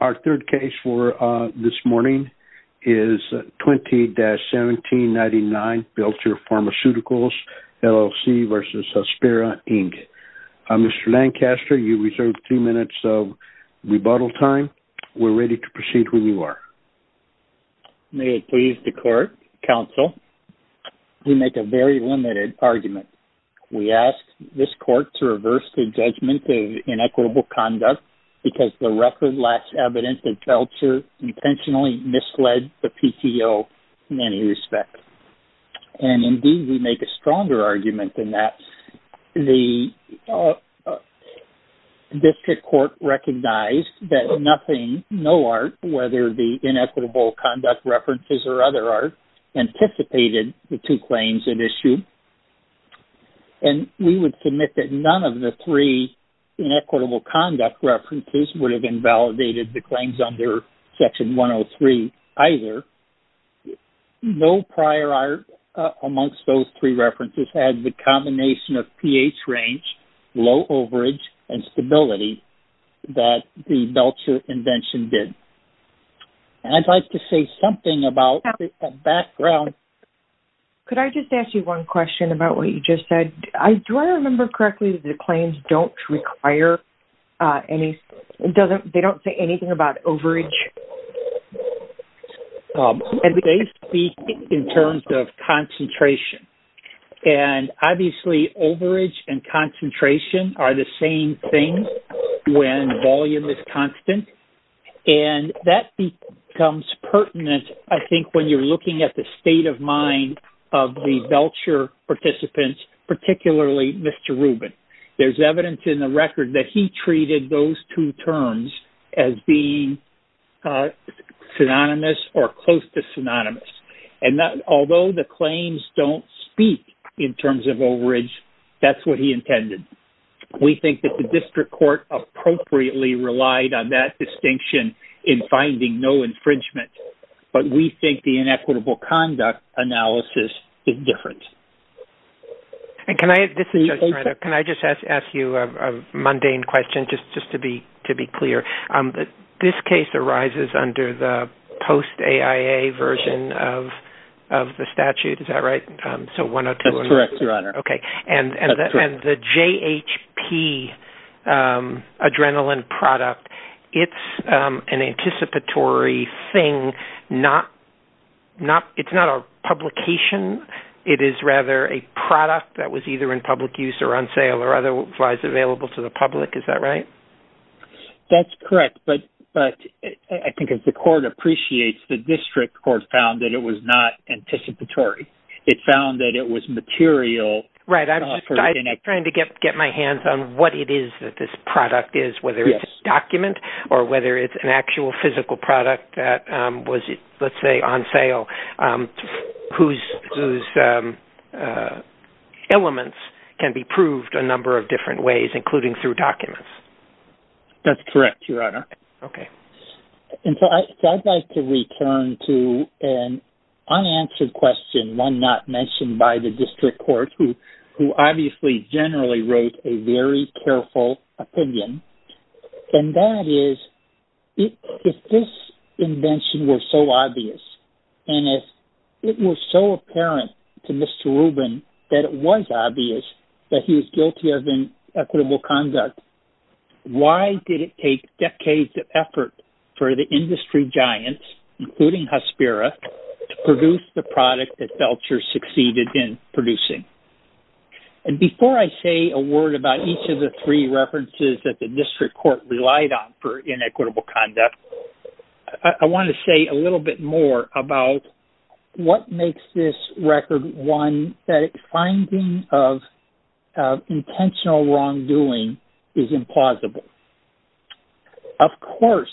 Our third case for this morning is 20-1799, Belcher Pharmaceuticals, LLC v. Hospira, Inc. Mr. Lancaster, you reserve three minutes of rebuttal time. We're ready to proceed when you are. May it please the Court, Counsel, we make a very limited argument. We ask this Court to reverse the judgment of inequitable conduct, because the record lacks evidence that Belcher intentionally misled the PTO in any respect. And indeed, we make a stronger argument than that. The District Court recognized that nothing, no art, whether the inequitable conduct references or other art, anticipated the two claims at issue. And we would submit that none of the three inequitable conduct references would have invalidated the claims under Section 103 either. No prior art amongst those three references had the combination of pH range, low overage, and stability that the Belcher invention did. I'd like to say something about the background. Could I just ask you one question about what you just said? Do I remember correctly that the claims don't require any-they don't say anything about overage? They speak in terms of concentration. And obviously, overage and concentration are the same thing when volume is constant. And that becomes pertinent, I think, when you're looking at the state of mind of the Belcher participants, particularly Mr. Rubin. There's evidence in the record that he treated those two terms as being synonymous or close to synonymous. And although the claims don't speak in terms of overage, that's what he intended. We think that the district court appropriately relied on that distinction in finding no infringement. But we think the inequitable conduct analysis is different. And can I-this is just-can I just ask you a mundane question just to be clear? This case arises under the post-AIA version of the statute, is that right? That's correct, Your Honor. Okay. And the JHP adrenaline product, it's an anticipatory thing, not-it's not a publication. It is rather a product that was either in public use or on sale or otherwise available to the public. Is that right? That's correct. But I think as the court appreciates, the district court found that it was not anticipatory. It found that it was material. Right. I'm trying to get my hands on what it is that this product is, whether it's a document or whether it's an actual physical product that was, let's say, on sale, whose elements can be proved a number of different ways, including through documents. That's correct, Your Honor. Okay. And so I'd like to return to an unanswered question, one not mentioned by the district court, who obviously generally wrote a very careful opinion. And that is, if this invention were so obvious and if it were so apparent to Mr. Rubin that it was obvious that he was guilty of inequitable conduct, why did it take decades of effort for the industry giants, including Hespera, to produce the product that Belcher succeeded in producing? And before I say a word about each of the three references that the district court relied on for inequitable conduct, I want to say a little bit more about what makes this record one that finding of intentional wrongdoing is implausible. Of course,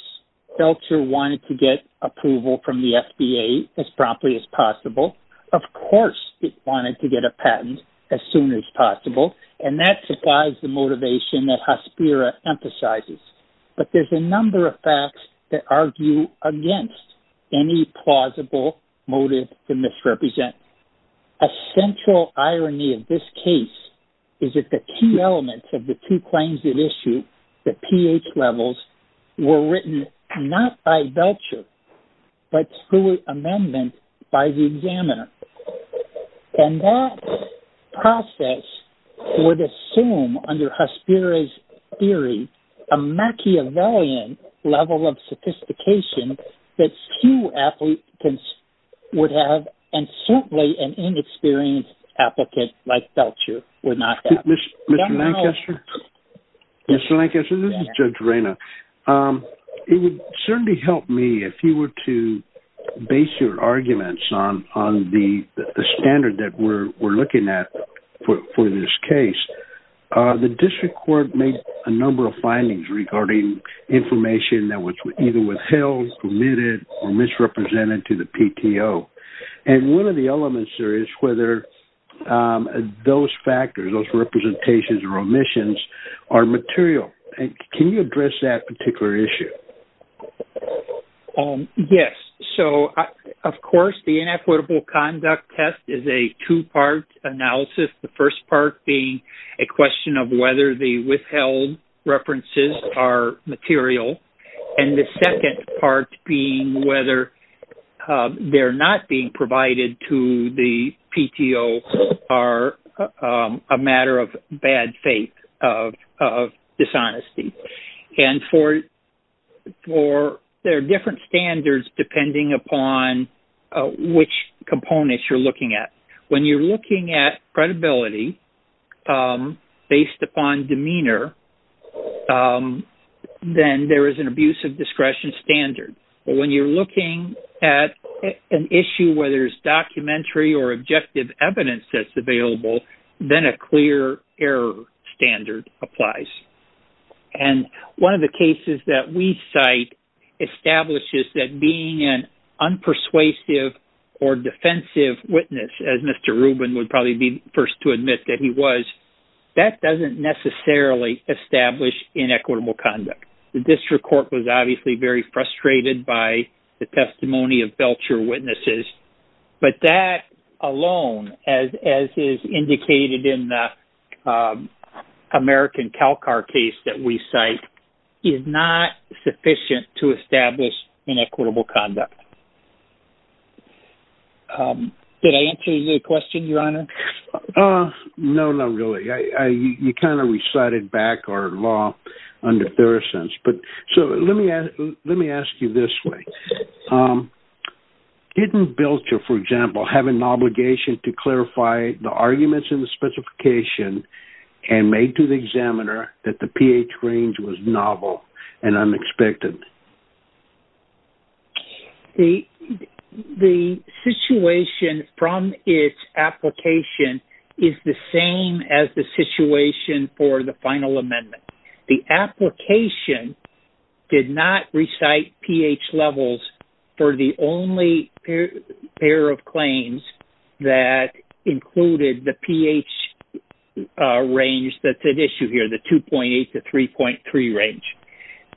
Belcher wanted to get approval from the FDA as promptly as possible. Of course, it wanted to get a patent as soon as possible. And that supplies the motivation that Hespera emphasizes. But there's a number of facts that argue against any plausible motive to misrepresent. A central irony of this case is that the key elements of the two claims at issue, the pH levels, were written not by Belcher, but through an amendment by the examiner. And that process would assume, under Hespera's theory, a Machiavellian level of sophistication that few applicants would have and certainly an inexperienced applicant like Belcher would not have. Mr. Lancaster, this is Judge Reyna. It would certainly help me if you were to base your arguments on the standard that we're looking at for this case. The district court made a number of findings regarding information that was either withheld, omitted, or misrepresented to the PTO. And one of the elements there is whether those factors, those representations or omissions, are material. Can you address that particular issue? Yes. So, of course, the inequitable conduct test is a two-part analysis. The first part being a question of whether the withheld references are material. And the second part being whether they're not being provided to the PTO are a matter of bad faith, of dishonesty. And there are different standards depending upon which components you're looking at. When you're looking at credibility based upon demeanor, then there is an abuse of discretion standard. But when you're looking at an issue where there's documentary or objective evidence that's available, then a clear error standard applies. And one of the cases that we cite establishes that being an unpersuasive or defensive witness, as Mr. Rubin would probably be the first to admit that he was, that doesn't necessarily establish inequitable conduct. The district court was obviously very frustrated by the testimony of Belcher witnesses. But that alone, as is indicated in the American CalCAR case that we cite, is not sufficient to establish inequitable conduct. Did I answer your question, Your Honor? No, not really. You kind of recited back our law under Thurisance. But so let me ask you this way. Didn't Belcher, for example, have an obligation to clarify the arguments in the specification and make to the examiner that the pH range was novel and unexpected? The situation from its application is the same as the situation for the final amendment. The application did not recite pH levels for the only pair of claims that included the pH range that's at issue here, the 2.8 to 3.3 range.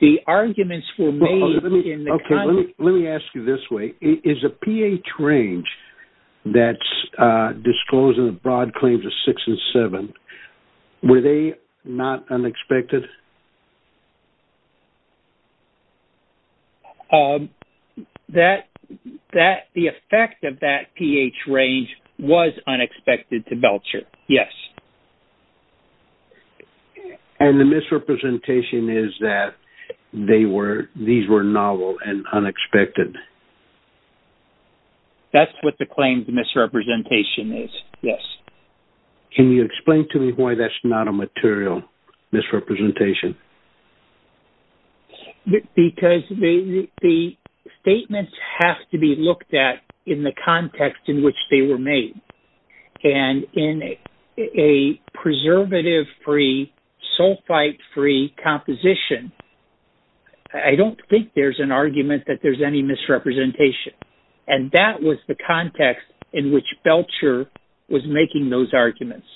The arguments were made in the context... Let me ask you this way. Is a pH range that's disclosed in the broad claims of 6 and 7, were they not unexpected? The effect of that pH range was unexpected to Belcher, yes. And the misrepresentation is that these were novel and unexpected? That's what the claim's misrepresentation is, yes. Can you explain to me why that's not a material misrepresentation? Because the statements have to be looked at in the context in which they were made. And in a preservative-free, sulfite-free composition, I don't think there's an argument that there's any misrepresentation. And that was the context in which Belcher was making those arguments.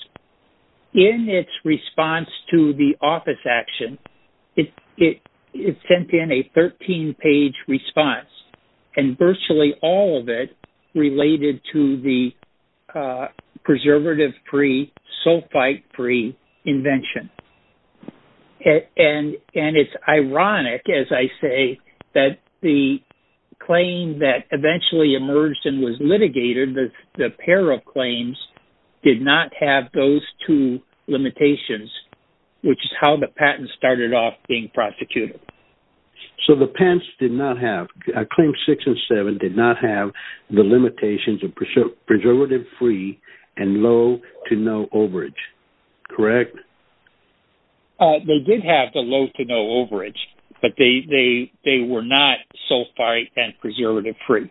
In its response to the office action, it sent in a 13-page response, and virtually all of it related to the preservative-free, sulfite-free invention. And it's ironic, as I say, that the claim that eventually emerged and was litigated, the pair of claims, did not have those two limitations, which is how the patent started off being prosecuted. So the patents did not have... Claims 6 and 7 did not have the limitations of preservative-free and low to no overage, correct? They did have the low to no overage, but they were not sulfite and preservative-free.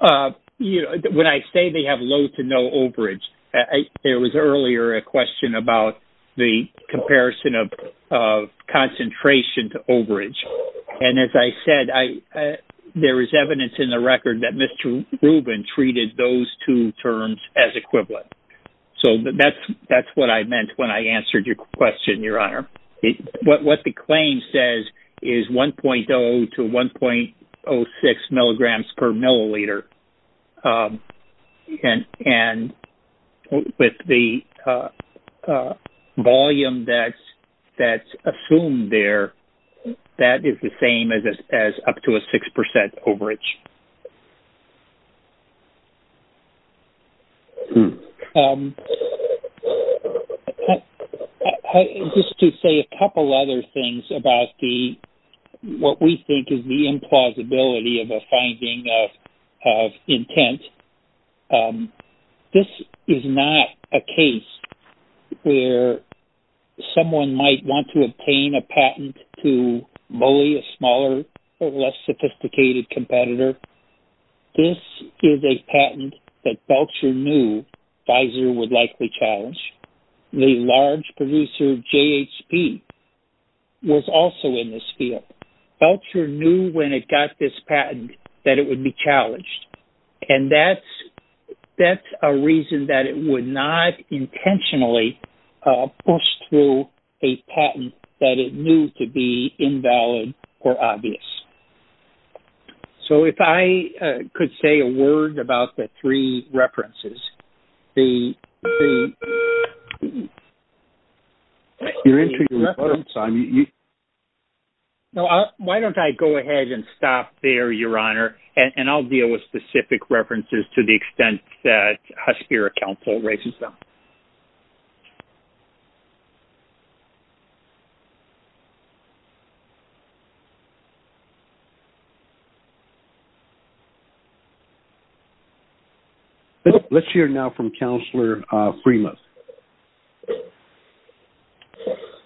When I say they have low to no overage, there was earlier a question about the comparison of concentration to overage. And as I said, there is evidence in the record that Mr. Rubin treated those two terms as equivalent. So that's what I meant when I answered your question, Your Honor. What the claim says is 1.0 to 1.06 milligrams per milliliter. And with the volume that's assumed there, that is the same as up to a 6% overage. Just to say a couple other things about what we think is the implausibility of a finding of intent. This is not a case where someone might want to obtain a patent to bully a smaller or less sophisticated competitor. This is a patent that Belcher knew Pfizer would likely challenge. The large producer JHP was also in this field. Belcher knew when it got this patent that it would be challenged. And that's a reason that it would not intentionally push through a patent that it knew to be invalid or obvious. So if I could say a word about the three references. Why don't I go ahead and stop there, Your Honor. And I'll deal with specific references to the extent that Husker Council raises them. Let's hear now from Counselor Freemus.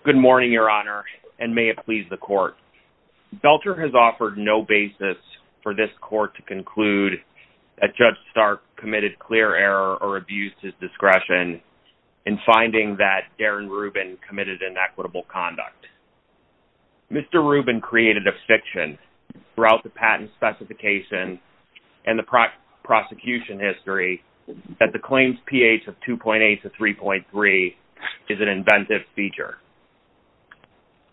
Good morning, Your Honor, and may it please the court. Belcher has offered no basis for this court to conclude that Judge Stark committed clear error or abused his discretion in finding that Darren Rubin committed inequitable conduct. Mr. Rubin created a fiction throughout the patent specification and the prosecution history that the claims pH of 2.8 to 3.3 is an inventive feature.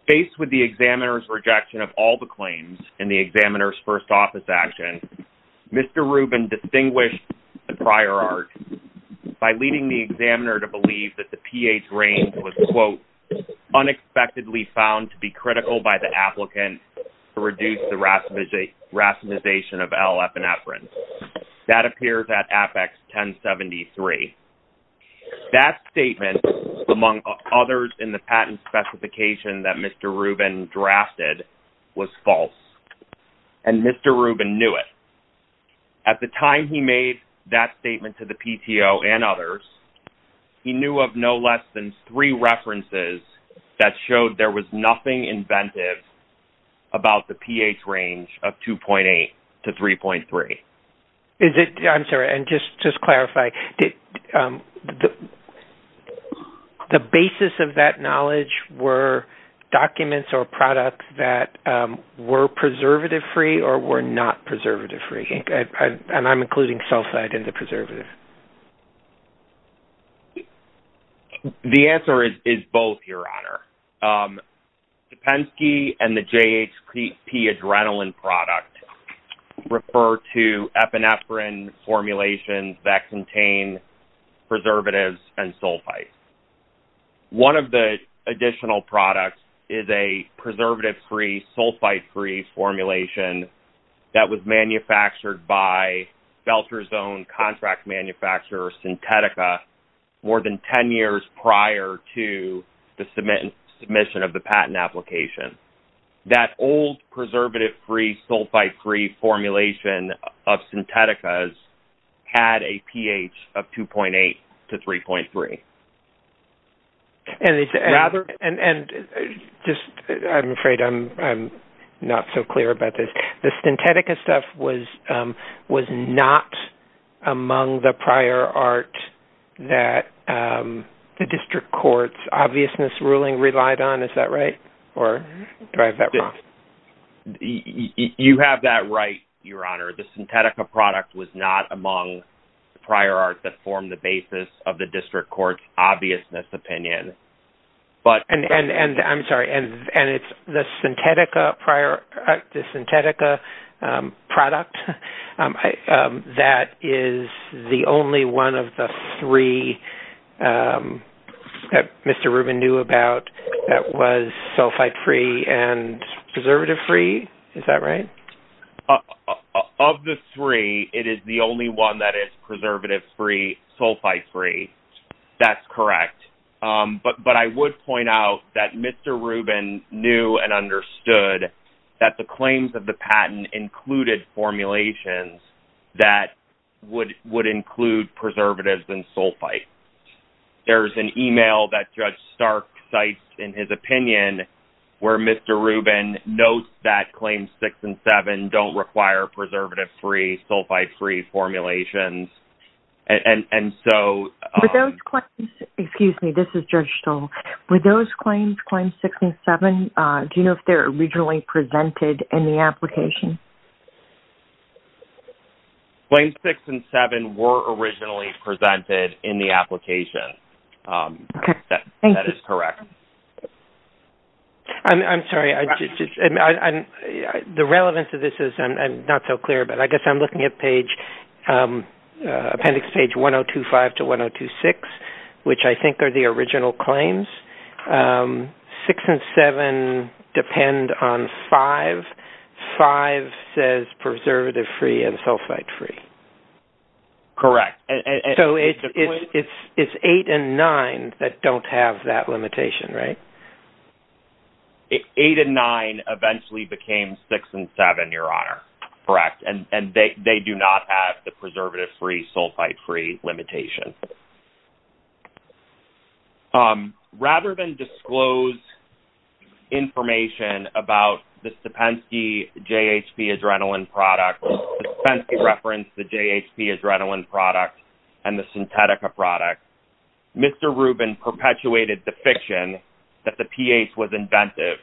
Faced with the examiner's rejection of all the claims in the examiner's first office action, Mr. Rubin distinguished the prior art by leading the examiner to believe that the pH range was, quote, unexpectedly found to be critical by the applicant to reduce the racemization of L-epinephrine. That appears at Apex 1073. That statement, among others in the patent specification that Mr. Rubin drafted, was false, and Mr. Rubin knew it. At the time he made that statement to the PTO and others, he knew of no less than three references that showed there was nothing inventive about the pH range of 2.8 to 3.3. I'm sorry. Just to clarify, the basis of that knowledge were documents or products that were preservative-free or were not preservative-free? I'm including sulfide in the preservative. The Penske and the JHP Adrenaline product refer to epinephrine formulations that contain preservatives and sulfides. One of the additional products is a preservative-free, sulfide-free formulation that was manufactured by Belcher's own contract manufacturer, Synthetica, more than 10 years prior to the submission of the patent application. That old preservative-free, sulfide-free formulation of Synthetica's had a pH of 2.8 to 3.3. I'm afraid I'm not so clear about this. The Synthetica stuff was not among the prior art that the district court's obviousness ruling relied on. Is that right? You have that right, Your Honor. The Synthetica product was not among the prior art that formed the basis of the district court's obviousness opinion. I'm sorry. It's the Synthetica product that is the only one of the three that Mr. Rubin knew about that was sulfide-free and preservative-free? Is that right? Of the three, it is the only one that is preservative-free, sulfide-free. That's correct. But I would point out that Mr. Rubin knew and understood that the claims of the patent included formulations that would include preservatives and sulfide. There's an email that Judge Stark cites in his opinion where Mr. Rubin notes that Claims 6 and 7 don't require preservative-free, sulfide-free formulations. With those claims, Claims 6 and 7, do you know if they were originally presented in the application? Claims 6 and 7 were originally presented in the application. That is correct. Okay. Thank you. I'm sorry. The relevance of this is not so clear, but I guess I'm looking at Appendix Page 1025-1026, which I think are the original claims. 6 and 7 depend on 5. 5 says preservative-free and sulfide-free. Correct. So, it's 8 and 9 that don't have that limitation, right? 8 and 9 eventually became 6 and 7, Your Honor. Correct. And they do not have the preservative-free, sulfide-free limitation. Rather than disclose information about the Stepensky JHP Adrenaline product, Stepensky referenced the JHP Adrenaline product and the Synthetica product, Mr. Rubin perpetuated the fiction that the pH was inventive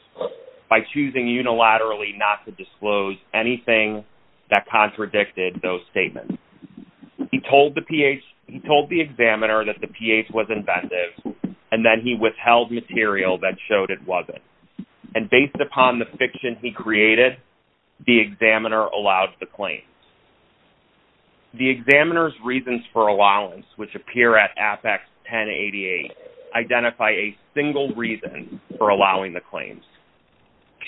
by choosing unilaterally not to disclose anything that contradicted those statements. He told the examiner that the pH was inventive, and then he withheld material that showed it wasn't. And based upon the fiction he created, the examiner allowed the claims. The examiner's reasons for allowance, which appear at Apex 1088, identify a single reason for allowing the claims.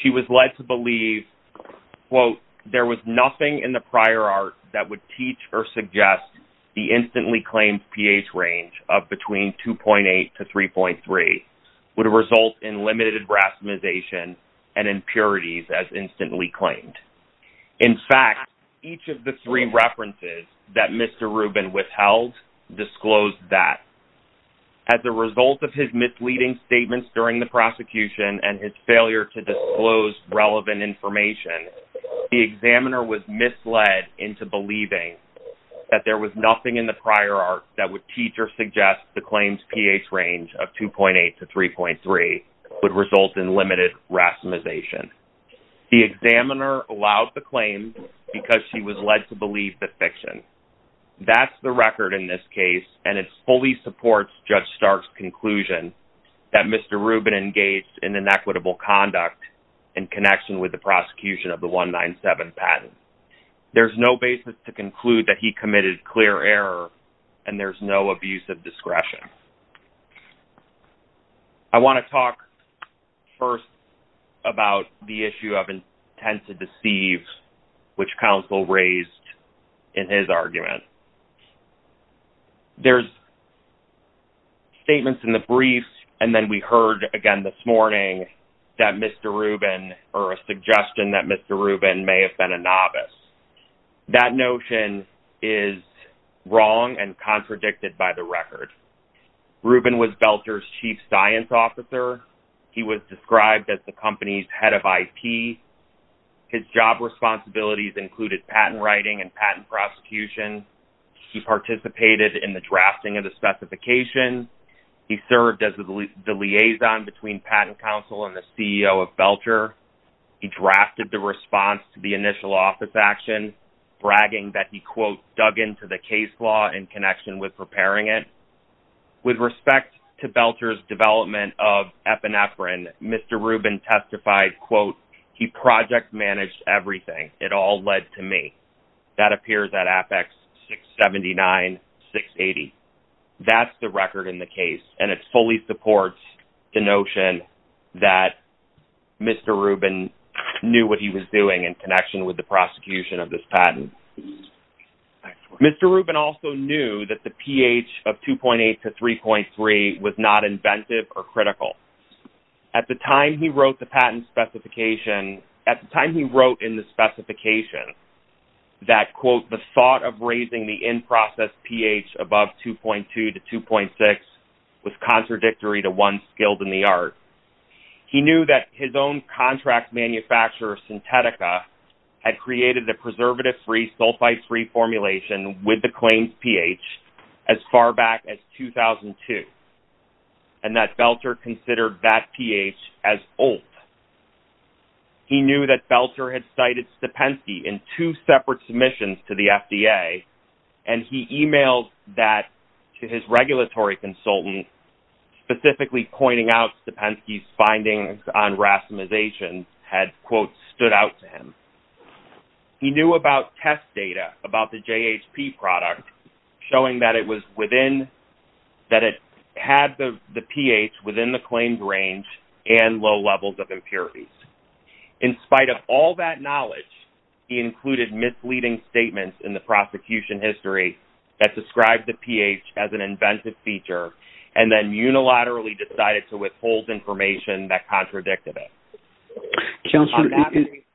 She was led to believe, quote, there was nothing in the prior art that would teach or suggest the instantly claimed pH range of between 2.8 to 3.3 would result in limited rastimization and impurities as instantly claimed. In fact, each of the three references that Mr. Rubin withheld disclosed that. As a result of his misleading statements during the prosecution and his failure to disclose relevant information, the examiner was misled into believing that there was nothing in the prior art that would teach or suggest the claims pH range of 2.8 to 3.3 would result in limited rastimization. The examiner allowed the claims because she was led to believe the fiction. That's the record in this case, and it fully supports Judge Stark's conclusion that Mr. Rubin engaged in inequitable conduct in connection with the prosecution of the 197 patent. There's no basis to conclude that he committed clear error, and there's no abuse of discretion. I want to talk first about the issue of intent to deceive, which counsel raised in his argument. There's statements in the briefs, and then we heard again this morning that Mr. Rubin or a suggestion that Mr. Rubin may have been a novice. That notion is wrong and contradicted by the record. Rubin was Belcher's chief science officer. He was described as the company's head of IP. His job responsibilities included patent writing and patent prosecution. He participated in the drafting of the specification. He served as the liaison between Patent Council and the CEO of Belcher. He drafted the response to the initial office action, bragging that he, quote, dug into the case law in connection with preparing it. With respect to Belcher's development of epinephrine, Mr. Rubin testified, quote, he project managed everything. It all led to me. That appears at Apex 679-680. That's the record in the case, and it fully supports the notion that Mr. Rubin knew what he was doing in connection with the prosecution of this patent. Mr. Rubin also knew that the pH of 2.8 to 3.3 was not inventive or critical. At the time he wrote the patent specification, at the time he wrote in the specification that, quote, the thought of raising the in-process pH above 2.2 to 2.6 was contradictory to one skilled in the art. He knew that his own contract manufacturer, Synthetica, had created a preservative-free, sulfite-free formulation with the claimed pH as far back as 2002, and that Belcher considered that pH as old. He knew that Belcher had cited Stepensky in two separate submissions to the FDA, and he emailed that to his regulatory consultant, specifically pointing out Stepensky's findings on racemization had, quote, stood out to him. He knew about test data about the JHP product, showing that it had the pH within the claimed range and low levels of impurities. In spite of all that knowledge, he included misleading statements in the prosecution history that described the pH as an inventive feature, and then unilaterally decided to withhold information that contradicted it. Counselor,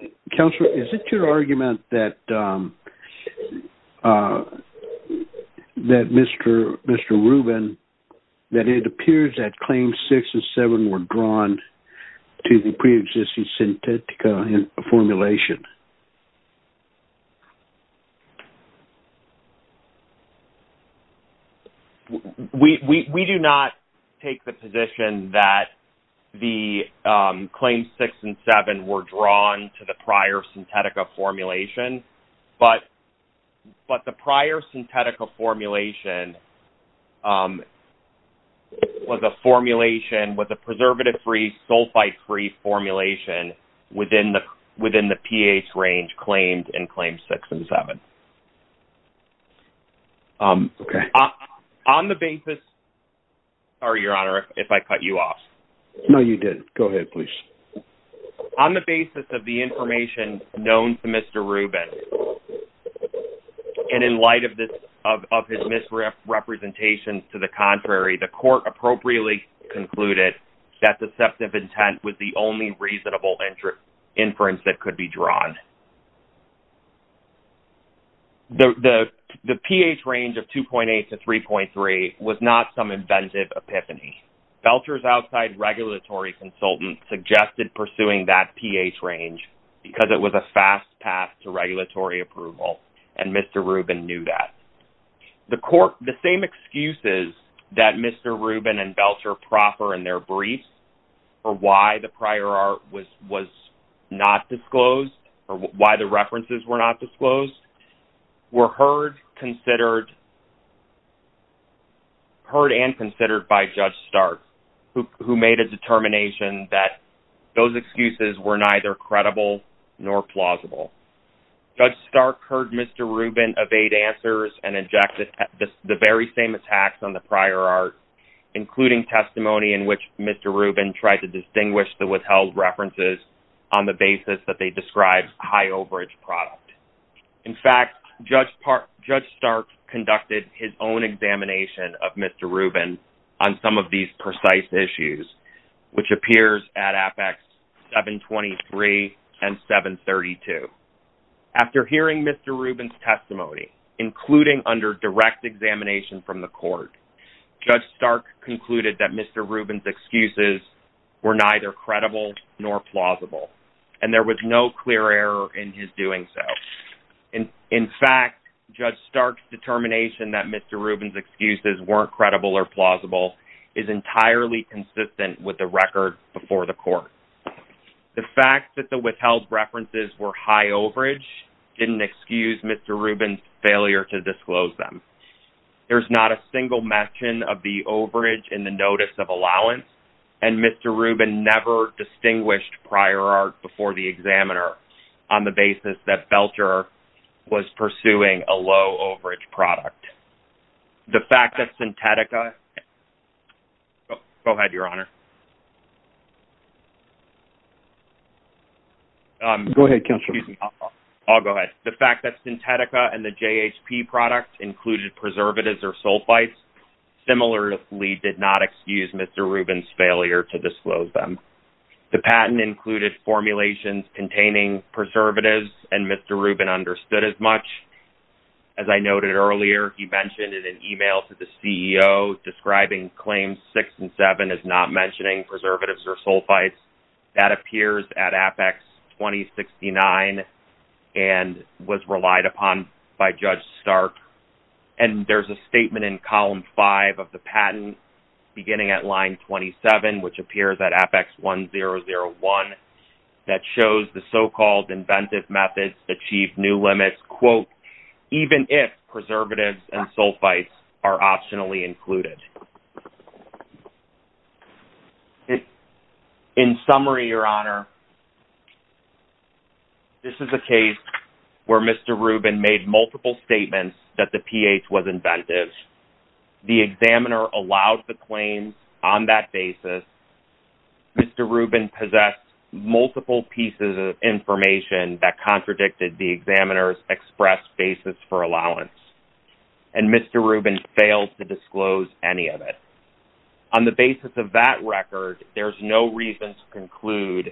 is it your argument that Mr. Rubin-that it appears that Claims 6 and 7 were drawn to the preexisting Synthetica formulation? We do not take the position that the Claims 6 and 7 were drawn to the prior Synthetica formulation, but the prior Synthetica formulation was a formulation-was a preservative-free, sulfite-free formulation within the pH range claimed in Claims 6 and 7. Okay. On the basis-sorry, Your Honor, if I cut you off. No, you did. Go ahead, please. On the basis of the information known to Mr. Rubin, and in light of his misrepresentations to the contrary, the court appropriately concluded that deceptive intent was the only reasonable inference that could be drawn. The pH range of 2.8 to 3.3 was not some inventive epiphany. Belcher's outside regulatory consultant suggested pursuing that pH range because it was a fast path to regulatory approval, and Mr. Rubin knew that. The court-the same excuses that Mr. Rubin and Belcher proffer in their brief for why the prior art was not disclosed or why the references were not disclosed were heard, considered-heard and considered by Judge Stark, who made a determination that those excuses were neither credible nor plausible. Judge Stark heard Mr. Rubin evade answers and injected the very same attacks on the prior art, including testimony in which Mr. Rubin tried to distinguish the withheld references on the basis that they described high overage product. In fact, Judge Stark conducted his own examination of Mr. Rubin on some of these precise issues, which appears at Apex 723 and 732. After hearing Mr. Rubin's testimony, including under direct examination from the court, Judge Stark concluded that Mr. Rubin's excuses were neither credible nor plausible, and there was no clear error in his doing so. In fact, Judge Stark's determination that Mr. Rubin's excuses weren't credible or plausible is entirely consistent with the record before the court. The fact that the withheld references were high overage didn't excuse Mr. Rubin's failure to disclose them. There's not a single mention of the overage in the notice of allowance, and Mr. Rubin never distinguished prior art before the examiner on the basis that Belcher was pursuing a low overage product. The fact that Synthetica-go ahead, Your Honor. Go ahead, Counselor. I'll go ahead. The fact that Synthetica and the JHP product included preservatives or sulfites similarly did not excuse Mr. Rubin's failure to disclose them. The patent included formulations containing preservatives, and Mr. Rubin understood as much. As I noted earlier, he mentioned in an email to the CEO describing Claims 6 and 7 as not mentioning preservatives or sulfites. That appears at Apex 2069 and was relied upon by Judge Stark, and there's a statement in Column 5 of the patent beginning at Line 27, which appears at Apex 1001, that shows the so-called inventive methods achieve new limits, quote, even if preservatives and sulfites are optionally included. In summary, Your Honor, this is a case where Mr. Rubin made multiple statements that the pH was inventive. The examiner allowed the claims on that basis. Mr. Rubin possessed multiple pieces of information that contradicted the examiner's express basis for allowance, and Mr. Rubin failed to disclose any of it. On the basis of that record, there's no reason to conclude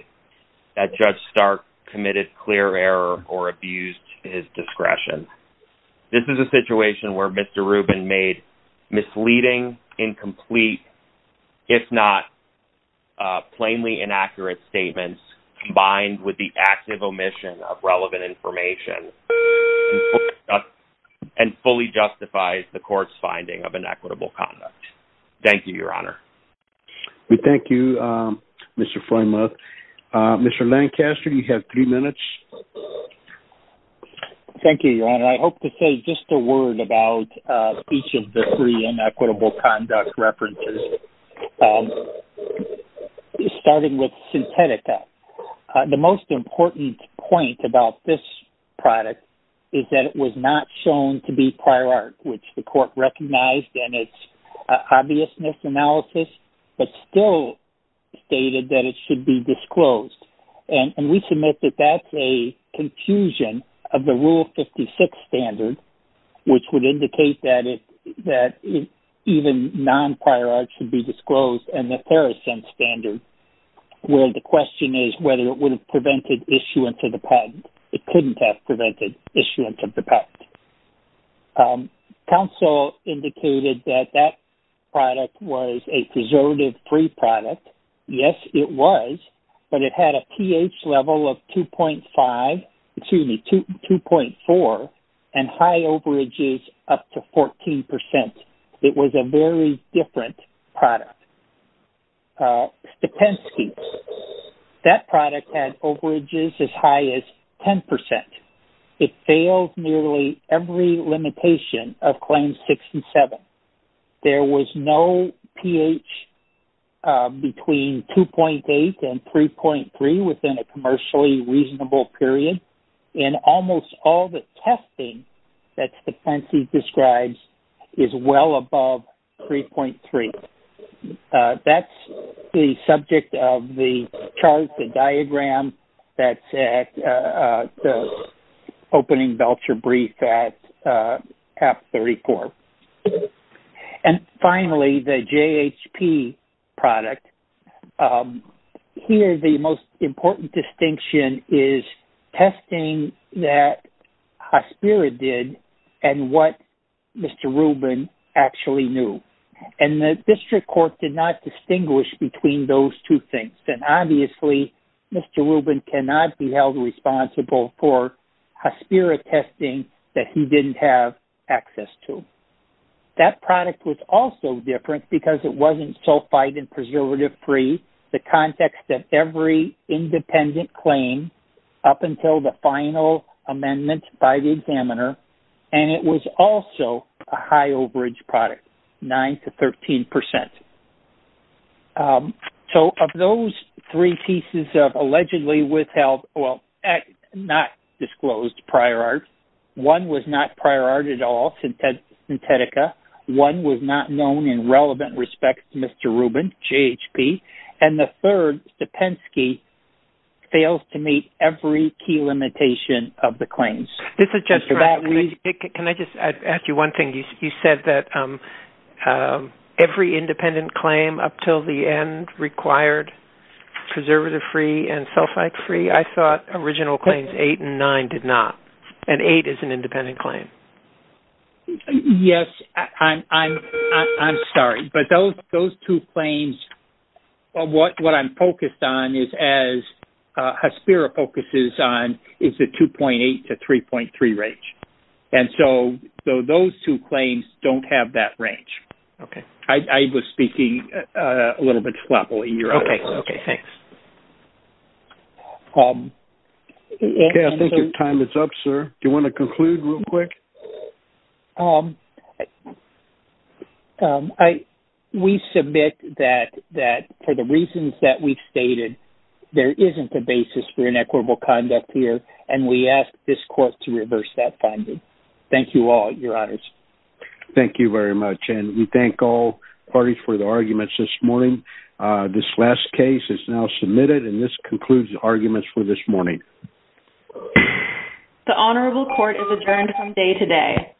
that Judge Stark committed clear error or abused his discretion. This is a situation where Mr. Rubin made misleading, incomplete, if not plainly inaccurate statements combined with the active omission of relevant information and fully justifies the court's finding of inequitable conduct. Thank you, Your Honor. We thank you, Mr. Freymuth. Mr. Lancaster, you have three minutes. Thank you, Your Honor. I hope to say just a word about each of the three inequitable conduct references, starting with Synthetica. The most important point about this product is that it was not shown to be prior art, which the court recognized in its obviousness analysis, but still stated that it should be disclosed. And we submit that that's a confusion of the Rule 56 standard, which would indicate that even non-prior art should be disclosed, and the Theracent standard, where the question is whether it would have prevented issuance of the patent. It couldn't have prevented issuance of the patent. Counsel indicated that that product was a preservative-free product. Yes, it was, but it had a pH level of 2.5, excuse me, 2.4, and high overages up to 14%. It was a very different product. Stepensky, that product had overages as high as 10%. It failed nearly every limitation of Claims 67. There was no pH between 2.8 and 3.3 within a commercially reasonable period, and almost all the testing that Stepensky describes is well above 3.3. That's the subject of the chart, the diagram, that's at the opening voucher brief at APT 34. And finally, the JHP product. Here, the most important distinction is testing that Hospira did and what Mr. Rubin actually knew. And the District Court did not distinguish between those two things. And obviously, Mr. Rubin cannot be held responsible for Hospira testing that he didn't have access to. That product was also different because it wasn't sulfide and preservative-free, the context that every independent claim up until the final amendment by the examiner, and it was also a high overage product, 9% to 13%. So of those three pieces of allegedly withheld, well, not disclosed prior art, one was not prior art at all, Synthetica. One was not known in relevant respect to Mr. Rubin, JHP. And the third, Stepensky, fails to meet every key limitation of the claims. Can I just ask you one thing? You said that every independent claim up until the end required preservative-free and sulfide-free. I thought original claims 8 and 9 did not, and 8 is an independent claim. Yes. I'm sorry. But those two claims, what I'm focused on is, as Hospira focuses on, is the 2.8 to 3.3 range. And so those two claims don't have that range. Okay. I was speaking a little bit sloppily. Okay, thanks. Okay, I think your time is up, sir. Do you want to conclude real quick? We submit that for the reasons that we've stated, there isn't a basis for inequitable conduct here, and we ask this court to reverse that finding. Thank you all, your honors. Thank you very much. And we thank all parties for the arguments this morning. This last case is now submitted, and this concludes arguments for this morning. The honorable court is adjourned from day to day.